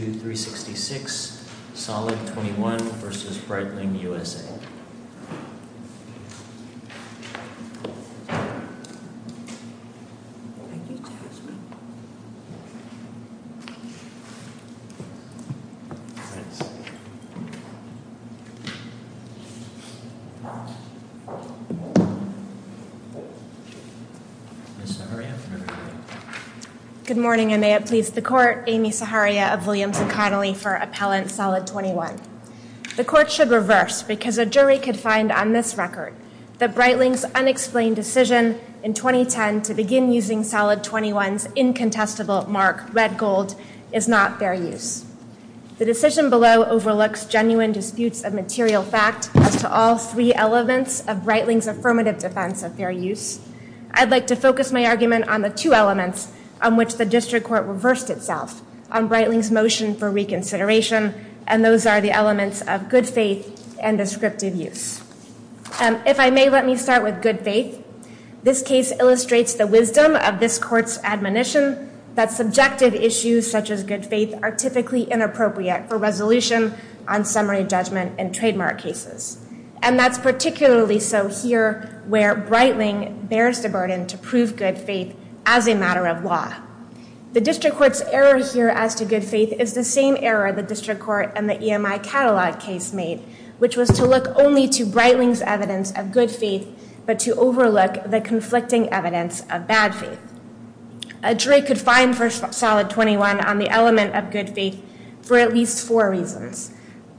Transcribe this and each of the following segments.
2366, Solid 21, Inc. v. Breitling USA, Inc. Good morning, and may it please the Court, Amy Saharia of Williams & Connolly for Appellant Solid 21. The Court should reverse, because a jury could find on this record that Breitling's unexplained decision in 2010 to begin using Solid 21's incontestable mark, red gold, is not fair use. The decision below overlooks genuine disputes of material fact as to all three elements of Breitling's affirmative defense of fair use. I'd like to focus my argument on the two elements on which the District Court reversed itself on Breitling's decision for reconsideration, and those are the elements of good faith and descriptive use. If I may, let me start with good faith. This case illustrates the wisdom of this Court's admonition that subjective issues such as good faith are typically inappropriate for resolution on summary judgment and trademark cases. And that's particularly so here where Breitling bears the burden to prove good faith as a matter of law. The District Court's error here as to good faith is the same error the District Court and the EMI Catalog case made, which was to look only to Breitling's evidence of good faith, but to overlook the conflicting evidence of bad faith. A jury could find for Solid 21 on the element of good faith for at least four reasons.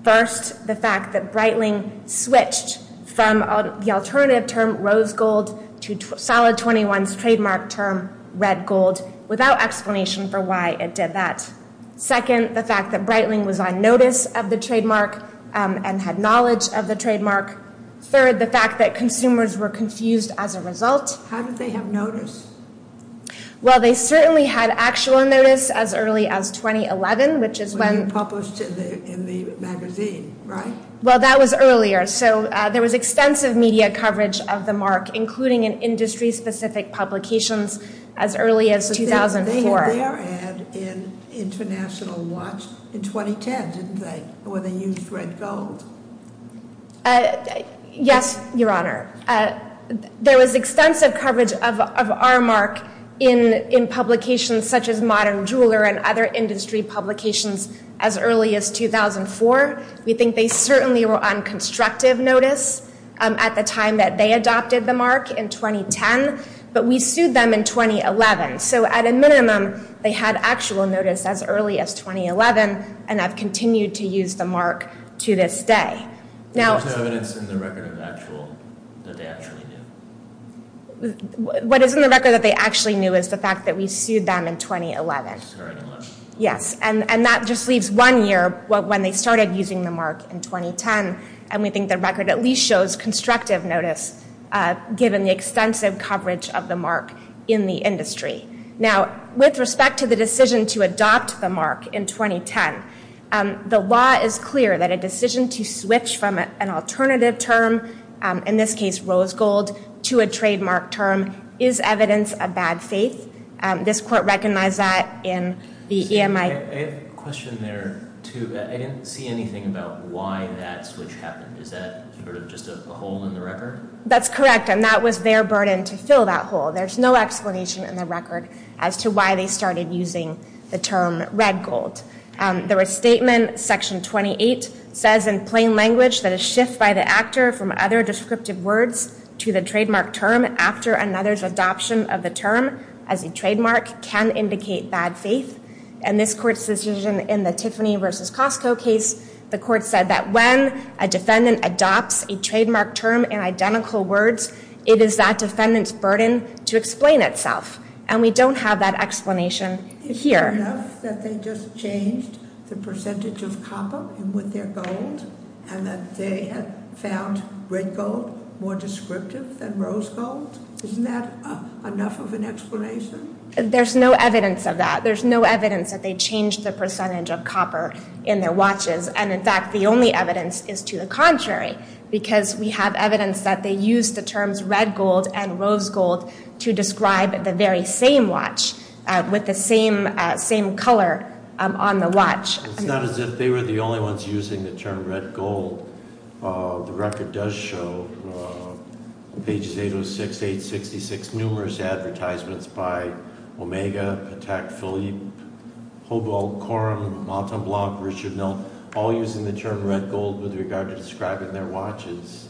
First, the fact that Breitling switched from the alternative term to Solid 21's trademark term, red gold, without explanation for why it did that. Second, the fact that Breitling was on notice of the trademark and had knowledge of the trademark. Third, the fact that consumers were confused as a result. How did they have notice? Well, they certainly had actual notice as early as 2011, which is when... When it was published in the magazine, right? Well, that was earlier. So there was extensive media coverage of the mark, including in industry-specific publications as early as 2004. They had their ad in International Watch in 2010, didn't they, where they used red gold? Yes, Your Honor. There was extensive coverage of our mark in publications such as Modern Jeweler and other industry publications as early as 2004. We think they certainly were on constructive notice at the time that they adopted the mark in 2010, but we sued them in 2011. So at a minimum, they had actual notice as early as 2011 and have continued to use the mark to this day. Now... What is in the record that they actually knew is the fact that we sued them in 2011. Yes, and that just leaves one year when they started using the mark in 2010, and we think the record at least shows constructive notice given the extensive coverage of the mark in the industry. Now, with respect to the decision to adopt the mark in 2010, the law is clear that a decision to switch from an alternative term, in this case, rose gold, to a trademark term is evidence of bad faith. This court recognized that in the EMI... I have a question there, too. I didn't see anything about why that switch happened. Is that sort of just a hole in the record? That's correct, and that was their burden to fill that hole. There's no explanation in the record as to why they started using the term red gold. The restatement, Section 28, says in plain language that a shift by the actor from other descriptive words to the trademark term after another's adoption of the term as a trademark can indicate bad faith, and this court's decision in the Tiffany versus Costco case, the court said that when a defendant adopts a trademark term in identical words, it is that defendant's burden to explain itself, and we don't have that explanation here. Is it enough that they just changed the percentage of copper in with their gold, and that they had found red gold more descriptive than rose gold? Isn't that enough of an explanation? There's no evidence of that. There's no evidence that they changed the percentage of copper in their watches, and in fact, the only evidence is to the contrary, because we have evidence that they used the terms red gold and rose gold to describe the same color on the watch. It's not as if they were the only ones using the term red gold. The record does show, pages 806, 866, numerous advertisements by Omega, Patek Philippe, Hobel, Corum, Montemblant, Richard Mill, all using the term red gold with regard to describing their watches.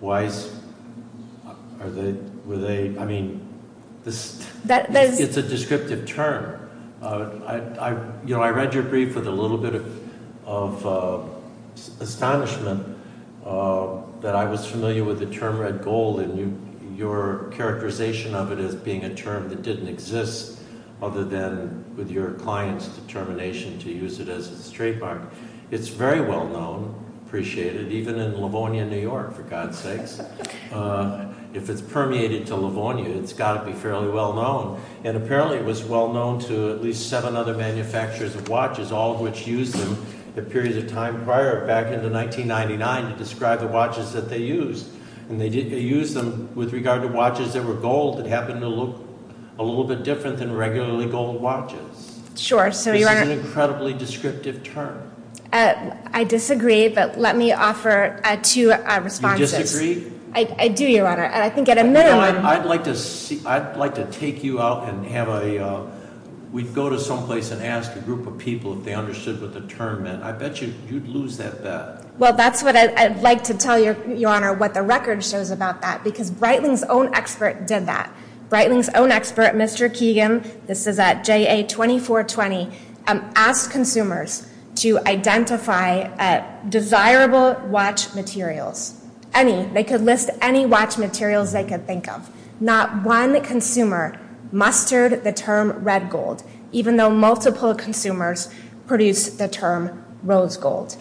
Why is, are they, were they, I mean, it's a descriptive term. I read your brief with a little bit of astonishment that I was familiar with the term red gold, and your characterization of it as being a term that didn't exist other than with your client's determination to use it as a trademark. It's very well known, appreciated, even in Livonia, New York, for God's sakes. If it's permeated to Livonia, it's got to be fairly well known, and apparently it was well known to at least seven other manufacturers of watches, all of which used them, a period of time prior, back into 1999, to describe the watches that they used. And they did use them with regard to watches that were gold that happened to look a little bit different than regularly gold watches. Sure, so you want to- This is an incredibly descriptive term. I disagree, but let me offer two responses. You disagree? I do, Your Honor, and I think at a minimum- I'd like to see, I'd like to take you out and have a, we'd go to some place and ask a group of people if they understood what the term meant. I bet you'd lose that bet. Well, that's what I'd like to tell Your Honor, what the record shows about that, because Breitling's own expert did that. Breitling's own expert, Mr. Keegan, this is at JA2420, asked consumers to identify desirable watch materials. Any, they could list any watch materials they could think of. Not one consumer mustered the term red gold, even though multiple consumers produced the term rose gold.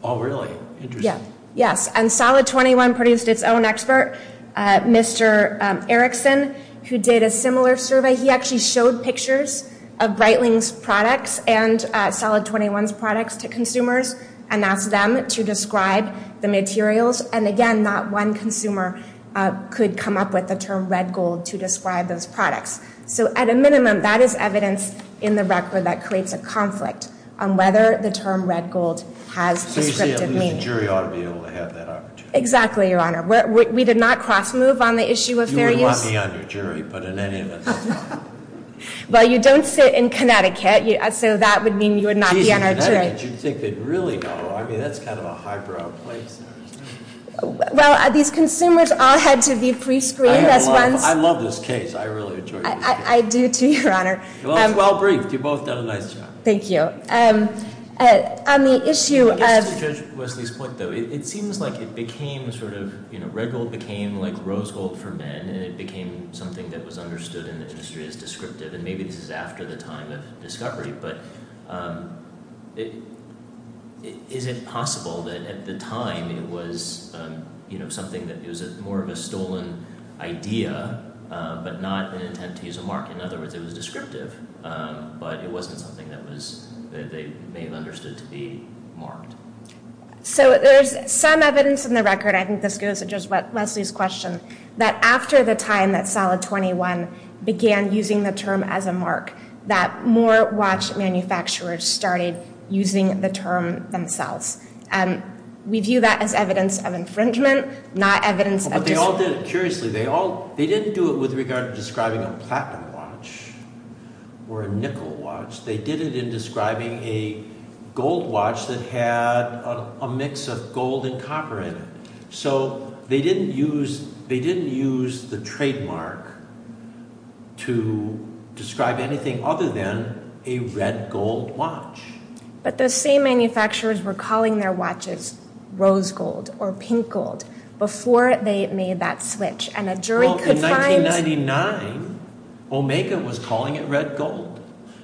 All really interesting. Yes, and Solid 21 produced its own expert. Mr. Erickson, who did a similar survey, he actually showed pictures of Breitling's products and Solid 21's products to consumers and asked them to describe the materials. And again, not one consumer could come up with the term red gold to describe those products. So at a minimum, that is evidence in the record that creates a conflict on whether the term red gold has descriptive meaning. So you say at least the jury ought to be able to have that opportunity. Exactly, Your Honor. We did not cross-move on the issue of fair use. You would want me on your jury, but in any event, that's fine. Well, you don't sit in Connecticut, so that would mean you would not be on our jury. Geez, in Connecticut, you'd think they'd really know. I mean, that's kind of a high-brow place. Well, these consumers all had to be pre-screened. I love this case. I really enjoy this case. I do, too, Your Honor. Well, it's well-briefed. You've both done a nice job. Thank you. On the issue of- It seems like it became sort of- Red gold became like rose gold for men, and it became something that was understood in the industry as descriptive. And maybe this is after the time of discovery, but is it possible that at the time, it was something that was more of a stolen idea, but not an intent to use a mark? In other words, it was descriptive, but it wasn't something that they may have understood to be marked. So there's some evidence in the record, I think this goes to just Leslie's question, that after the time that Solid 21 began using the term as a mark, that more watch manufacturers started using the term themselves. We view that as evidence of infringement, not evidence that- But they all did it curiously. They didn't do it with regard to describing a platinum watch or a nickel watch. They did it in describing a gold watch that had a mix of gold and copper in it. So they didn't use the trademark to describe anything other than a red gold watch. But the same manufacturers were calling their watches rose gold or pink gold before they made that switch, and a jury could find- Well, in 1999, Omega was calling it red gold.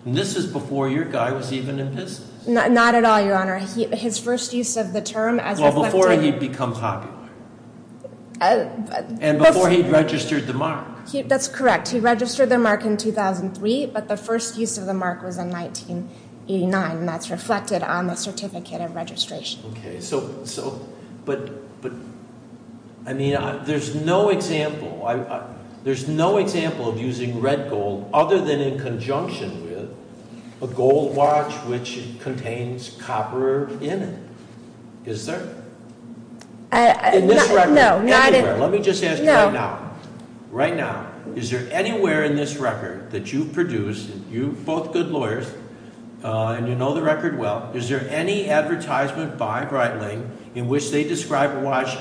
And this is before your guy was even in business. Not at all, Your Honor. His first use of the term as a- Well, before he'd become popular. And before he'd registered the mark. That's correct. He registered the mark in 2003, but the first use of the mark was in 1989, and that's reflected on the certificate of registration. Okay, so, but, I mean, there's no example of using red gold other than in conjunction with a gold watch which contains copper in it. Is there? In this record? No, not in- Anywhere? Let me just ask you right now. Right now, is there anywhere in this record that you've produced, and you're both good lawyers, and you know the record well, is there any advertisement by Breitling in which they describe a watch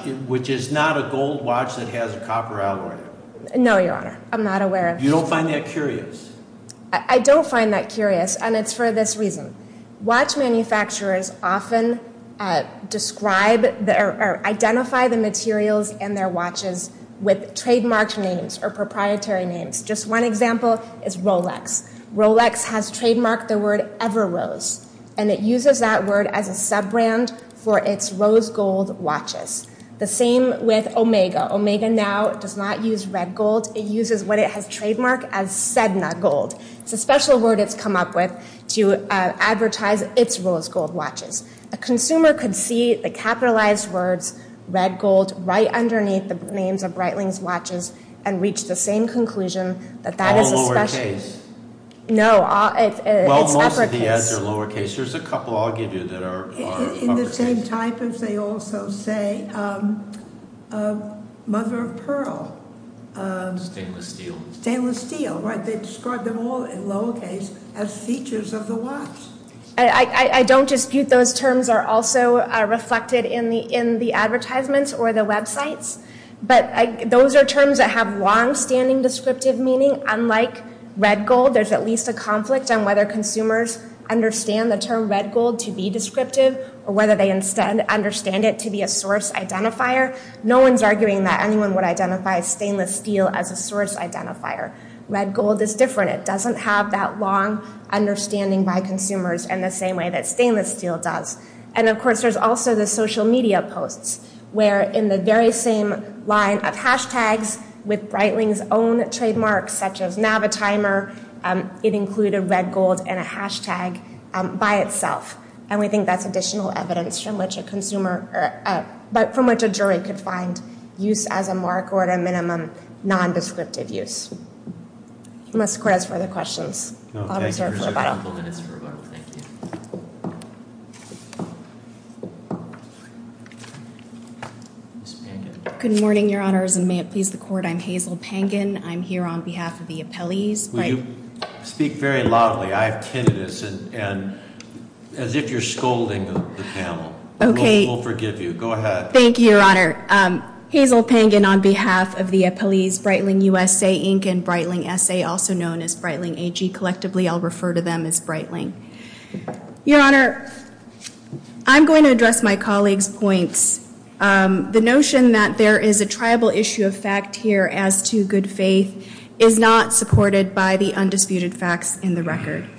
No, Your Honor. I'm not aware of- You don't find that curious? I don't find that curious, and it's for this reason. Watch manufacturers often describe, or identify the materials in their watches with trademarked names or proprietary names. Just one example is Rolex. Rolex has trademarked the word Everose, and it uses that word as a sub-brand for its rose gold watches. The same with Omega. Omega now does not use red gold. It uses what it has trademarked as Sedna gold. It's a special word it's come up with to advertise its rose gold watches. A consumer could see the capitalized words red gold right underneath the names of Breitling's watches, and reach the same conclusion that that is a special- All lowercase? No, it's uppercase. Well, most of the ads are lowercase. There's a couple I'll give you that are uppercase. In the same type, as they also say, Mother of Pearl. Stainless steel? Stainless steel. They describe them all in lowercase as features of the watch. I don't dispute those terms are also reflected in the advertisements or the websites, but those are terms that have long-standing descriptive meaning. Unlike red gold, there's at least a conflict on whether consumers understand the term red gold to be descriptive, or whether they instead understand it to be a source identifier. No one's arguing that anyone would identify stainless steel as a source identifier. Red gold is different. It doesn't have that long understanding by consumers in the same way that stainless steel does. And of course, there's also the social media posts where in the very same line of hashtags with Breitling's own trademarks such as Navitimer, it included red gold and a hashtag by itself. And we think that's additional evidence from which a consumer but from which a jury could find use as a mark or at a minimum non-descriptive use. Unless the court has further questions. I'll reserve for rebuttal. I'll reserve a couple minutes for rebuttal. Thank you. Ms. Pangan. Good morning, your honors. And may it please the court, I'm Hazel Pangan. I'm here on behalf of the appellees. Will you speak very loudly? I have tinnitus and as if you're scolding the panel. Okay. We'll forgive you. Go ahead. Thank you, your honor. Hazel Pangan on behalf of the appellees Breitling USA Inc and Breitling SA also known as Breitling AG. Collectively, I'll refer to them as Breitling. Your honor, I'm going to address my colleague's points. The notion that there is a tribal issue of fact here as to good faith is not supported by the undisputed facts in the record.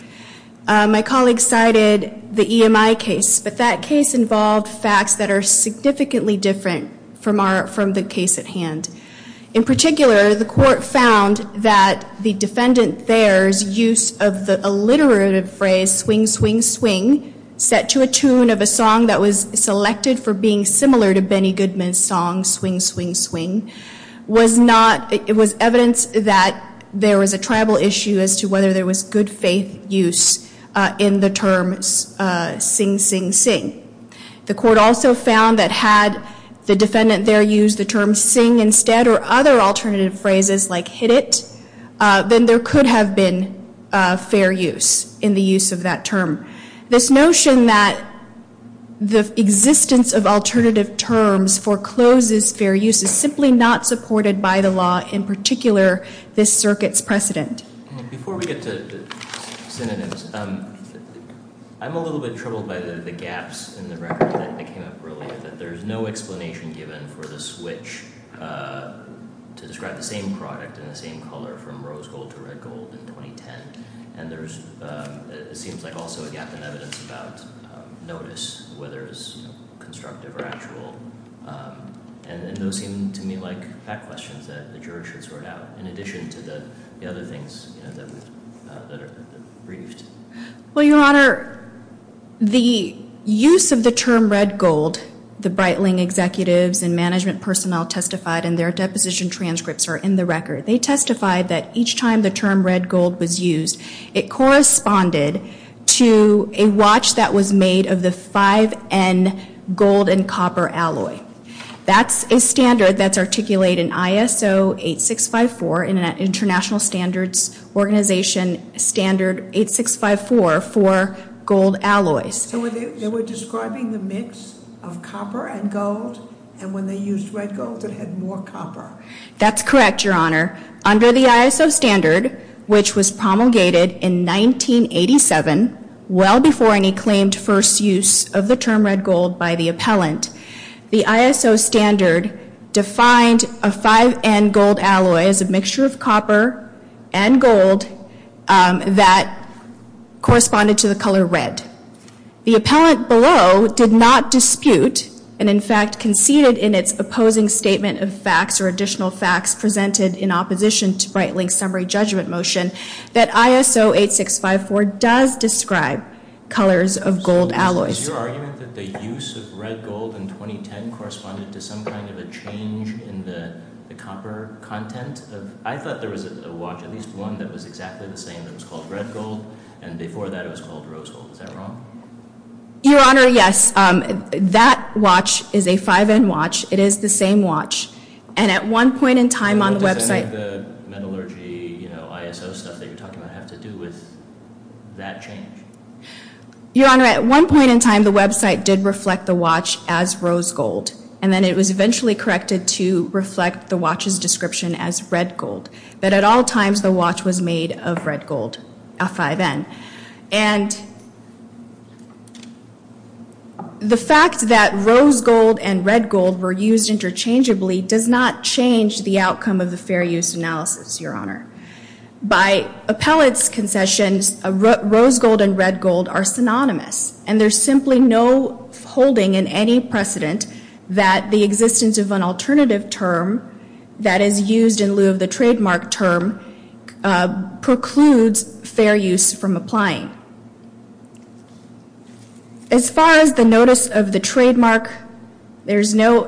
My colleague cited the EMI case but that case involved facts that are significantly different from the case at hand. In particular, the court found that the defendant there's use of the alliterative phrase swing, swing, swing set to a tune of a song that was selected for being similar to Benny Goodman's song Swing, Swing, Swing was not it was evidence that there was a tribal issue as to whether there was good faith use in the term Sing, Sing, Sing The court also found that had the defendant there used the term sing instead or other alternative phrases like hit it then there could have been fair use in the use of that term. This notion that the existence of alternative terms forecloses fair use is simply not supported by the law in particular this circuit's precedent. Before we get to synonyms I'm a little bit troubled by the gaps in the record that came up earlier that there's no explanation given for the switch to describe the same product in the same color from rose gold to red gold in 2010 and there's it seems like also a gap in evidence about notice whether it's constructive or actual and those seem to me like fact questions that the jury should sort out in addition to the other things that are briefed. Well your honor the use of the term red gold the Breitling executives and management personnel testified and their deposition transcripts are in the record they testified that each time the term red gold was used it corresponded to a watch that was made of the 5N gold and copper alloy that's a standard that's articulated in ISO 8654 in an international standards organization standard 8654 for gold alloys so they were describing the mix of copper and gold and when they used red gold it had more copper that's correct your honor under the ISO standard which was promulgated in 1987 well before any claimed first use of the term red gold by the appellant the ISO standard defined a 5N gold alloy as a mixture of copper and gold um that corresponded to the color red the appellant below did not dispute and in fact conceded in its opposing statement of facts or additional facts presented in opposition to brightlink summary judgment motion that ISO 8654 does describe colors of gold alloys so is your argument that the use of red gold in 2010 corresponded to some kind of a change in the copper content of I thought there was a watch at least one that was exactly the same that was called red gold and before that it was called rose gold is that wrong? your honor yes um that watch is a 5N watch it is the same watch and at one point in time on the website does any of the metallurgy you know ISO stuff that you are talking about have to do with that change your honor at one point in time the website did reflect the watch as rose gold and then it was eventually corrected to reflect the watch's description as red gold but at all times the watch was made of red gold a 5N and the fact that rose gold and red gold were used interchangeably does not change the outcome of the fair use analysis your honor by appellate's concessions rose gold and red gold are synonymous and there's simply no holding in any precedent that the existence of an international synonymous with a fair use analysis as far as the notice of the trademark there's no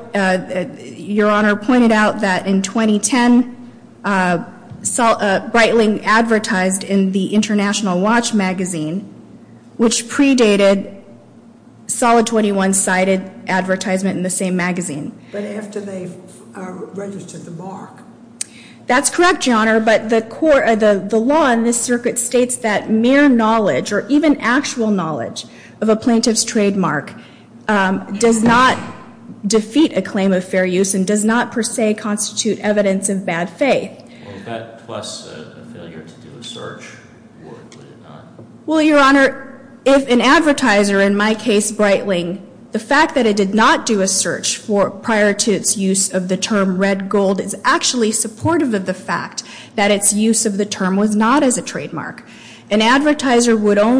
your honor pointed out that in 2010 Breitling advertised in the international watch magazine which predated solid 21-sided advertisement in the same magazine that's correct your honor but the law in this circuit states that mere knowledge of a plaintiff's trademark does not defeat a claim of fair use and does not per se constitute evidence of bad faith well your honor if an advertiser in my case Breitling the fact that it did not do a search prior to its use of the term red gold is actually supportive of the fact that its use of the term was not as important as the term red gold as well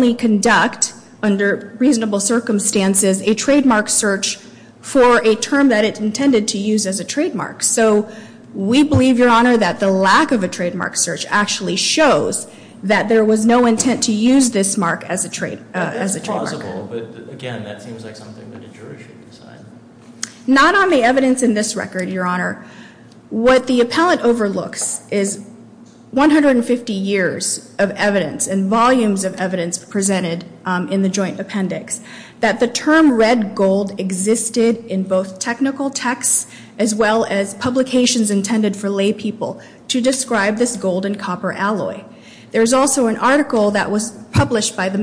as publications intended for lay people to describe this gold and copper alloy there's also an article that was published by the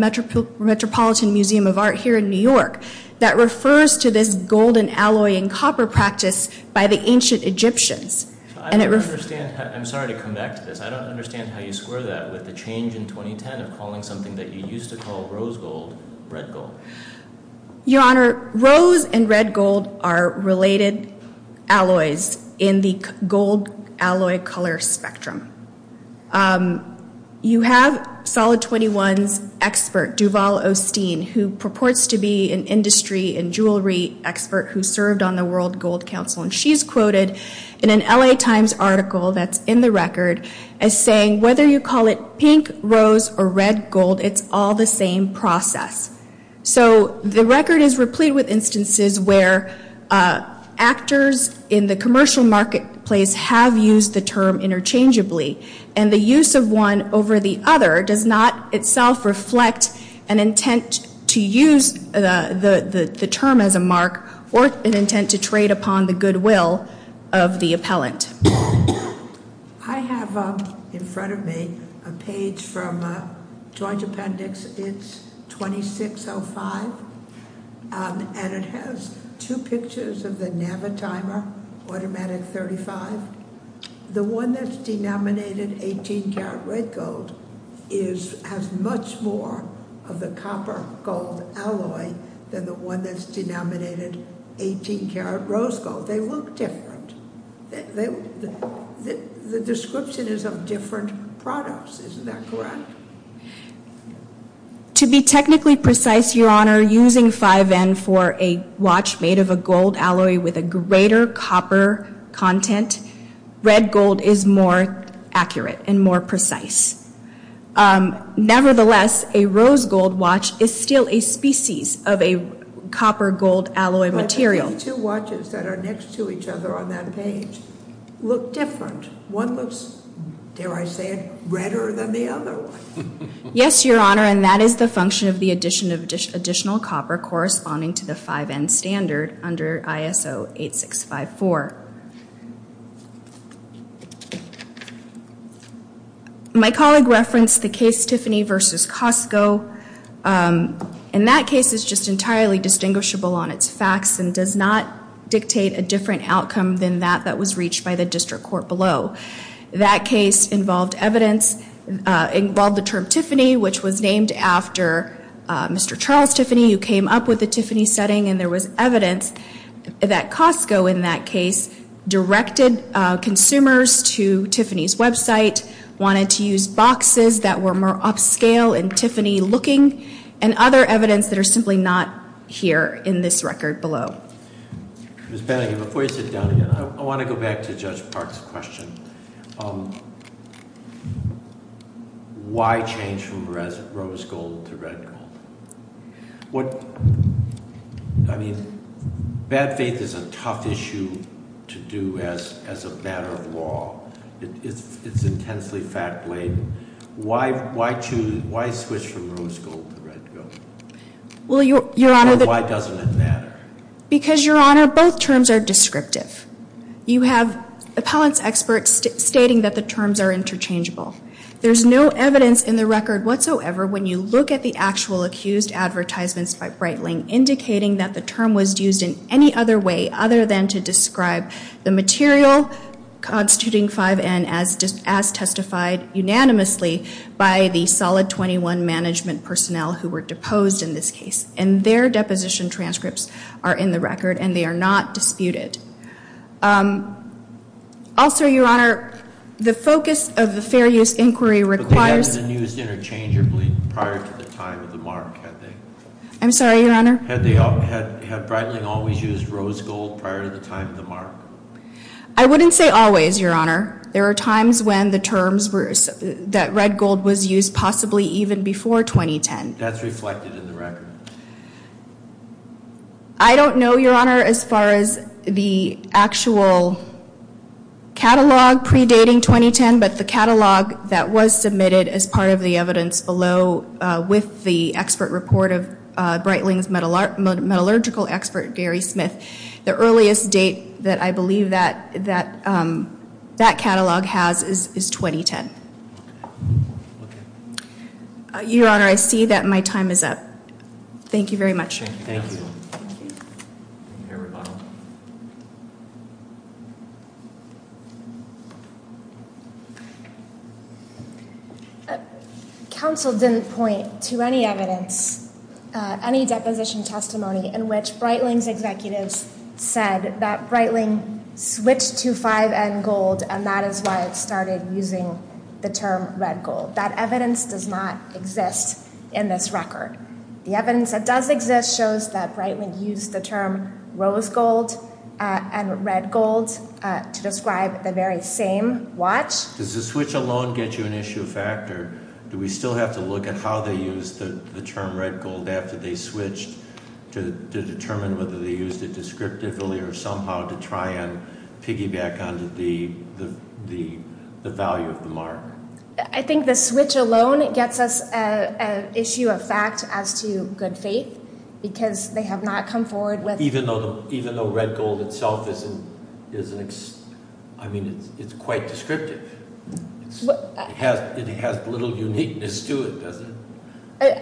metropolitan museum of art here in New York that refers to this golden alloy in copper practice by the ancient Egyptians I'm sorry to come back to this I don't understand how you square that with the change in 2010 of calling something that you used to call rose gold red gold you honor rose and red gold are related alloys in the same process so the record is replete with instances where actors in the commercial marketplace have used the term interchangeably and the use of one over the other does not itself reflect an intent to use the term as a mark or intent to trade upon the good will of the appellant I have in front of me a page from a joint appendix it's 2605 and it has two pictures of the Navitimer automatic 35 the one that's denominated 18 carat red gold has much more of the copper gold alloys isn't that correct to be technically precise your honor using 5n for a watch made of a gold alloy with a greater copper content red gold is more accurate and more precise nevertheless a rose gold watch is still a species of a copper gold alloy material two watches that are next to each other on that page look different one looks dare I say it redder than the other one yes your honor and that is the function of the addition of additional copper corresponding to the 5n standard under ISO 8654 my colleague referenced the case Tiffany versus Costco and that case is just entirely distinguishable on its facts and does not dictate a different outcome than that that was reached by the district court below that case involved evidence involved the term Tiffany which was named after Mr. Charles Tiffany who came up with the Tiffany setting and there was evidence that Costco in that case directed consumers to Tiffany's website wanted to use boxes that were more upscale and Tiffany looking and other evidence that are simply not here in this record below. Thank you very much. Ms. Panaghi, before you sit down again, I want to go back to Judge Parks' question. Why change from rose gold to red gold? I mean bad faith is a tough issue to do as a matter of law. It's intensely fact laden. Why switch from rose gold to red gold? Because both terms are descriptive. There's no evidence in the record when you look at the accused advertisements indicating that the term was used in any other way other than to describe the material constituting 5N as testified unanimously by the solid 21 management personnel who were deposed in this case. And their deposition transcripts are in the record and they are not disputed. Also, your honor, the focus of the fair use inquiry requires. I'm sorry, your honor. Had Breitling always used rose gold prior to the time of the mark? I wouldn't say always, your honor. There are times when the terms that red gold was used possibly even before 2010. That's reflected in the record. I don't know, your honor, as far as the actual catalog predating 2010, but the catalog that was submitted as part of the evidence below with the expert report of Breitling's metallurgical expert, Gary Smith, the earliest date that I believe that catalog has is 2010. Your honor, I see that my time is up. Thank you very much. Thank you. We are all done. Counsel didn't point to any evidence, any deposition testimony in which Breitling's executives said that Breitling switched to 5N gold and that is why it started using the term red gold. But that evidence does not exist in this record. The evidence that does exist shows that Breitling used the term rose gold and red gold to describe the very same watch. Does the switch alone get you an issue of fact or do we still have to look at how they used the term red gold after they started using it? The switch alone gets us an issue of fact as to good faith because they have not come forward. Even though red gold itself is quite descriptive? It has little uniqueness to it, does it?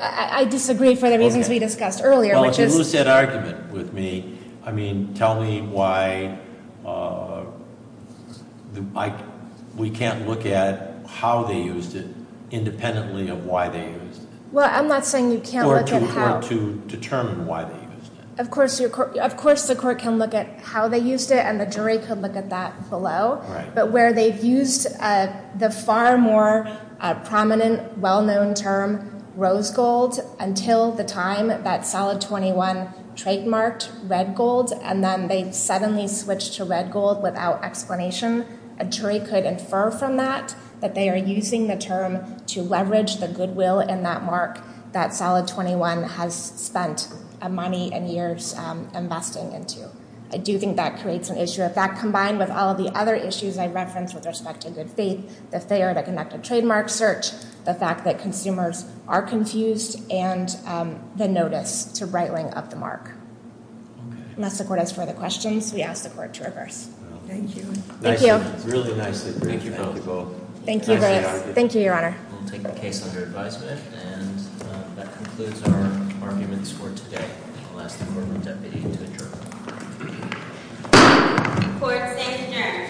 I disagree for the reasons we discussed earlier. If you lose that argument with me, tell me why we can't look at how they used it independently of why they used it. I'm not saying you can't look at how. Of course the court can look at how they used it and the jury can look at that below, but where they've used the far more prominent well-known term rose gold until the time that solid 21 trademarked red gold and then they suddenly switched to red gold without explanation, a jury could infer from that that they are using the term to leverage the good will in that mark that solid 21 has spent money and years investing into. I do think that creates an issue. If that combined with all the other issues I referenced with respect to good faith, the fact that consumers are confused and the notice to right-wing of the mark. Unless the court has further questions, we ask the court to reverse. Thank you. Thank you. Thank you. Thank you. Thank you. Thank you. I'll take the case under advisement and that concludes our arguments for today. I'll ask the deputy to adjourn. Court is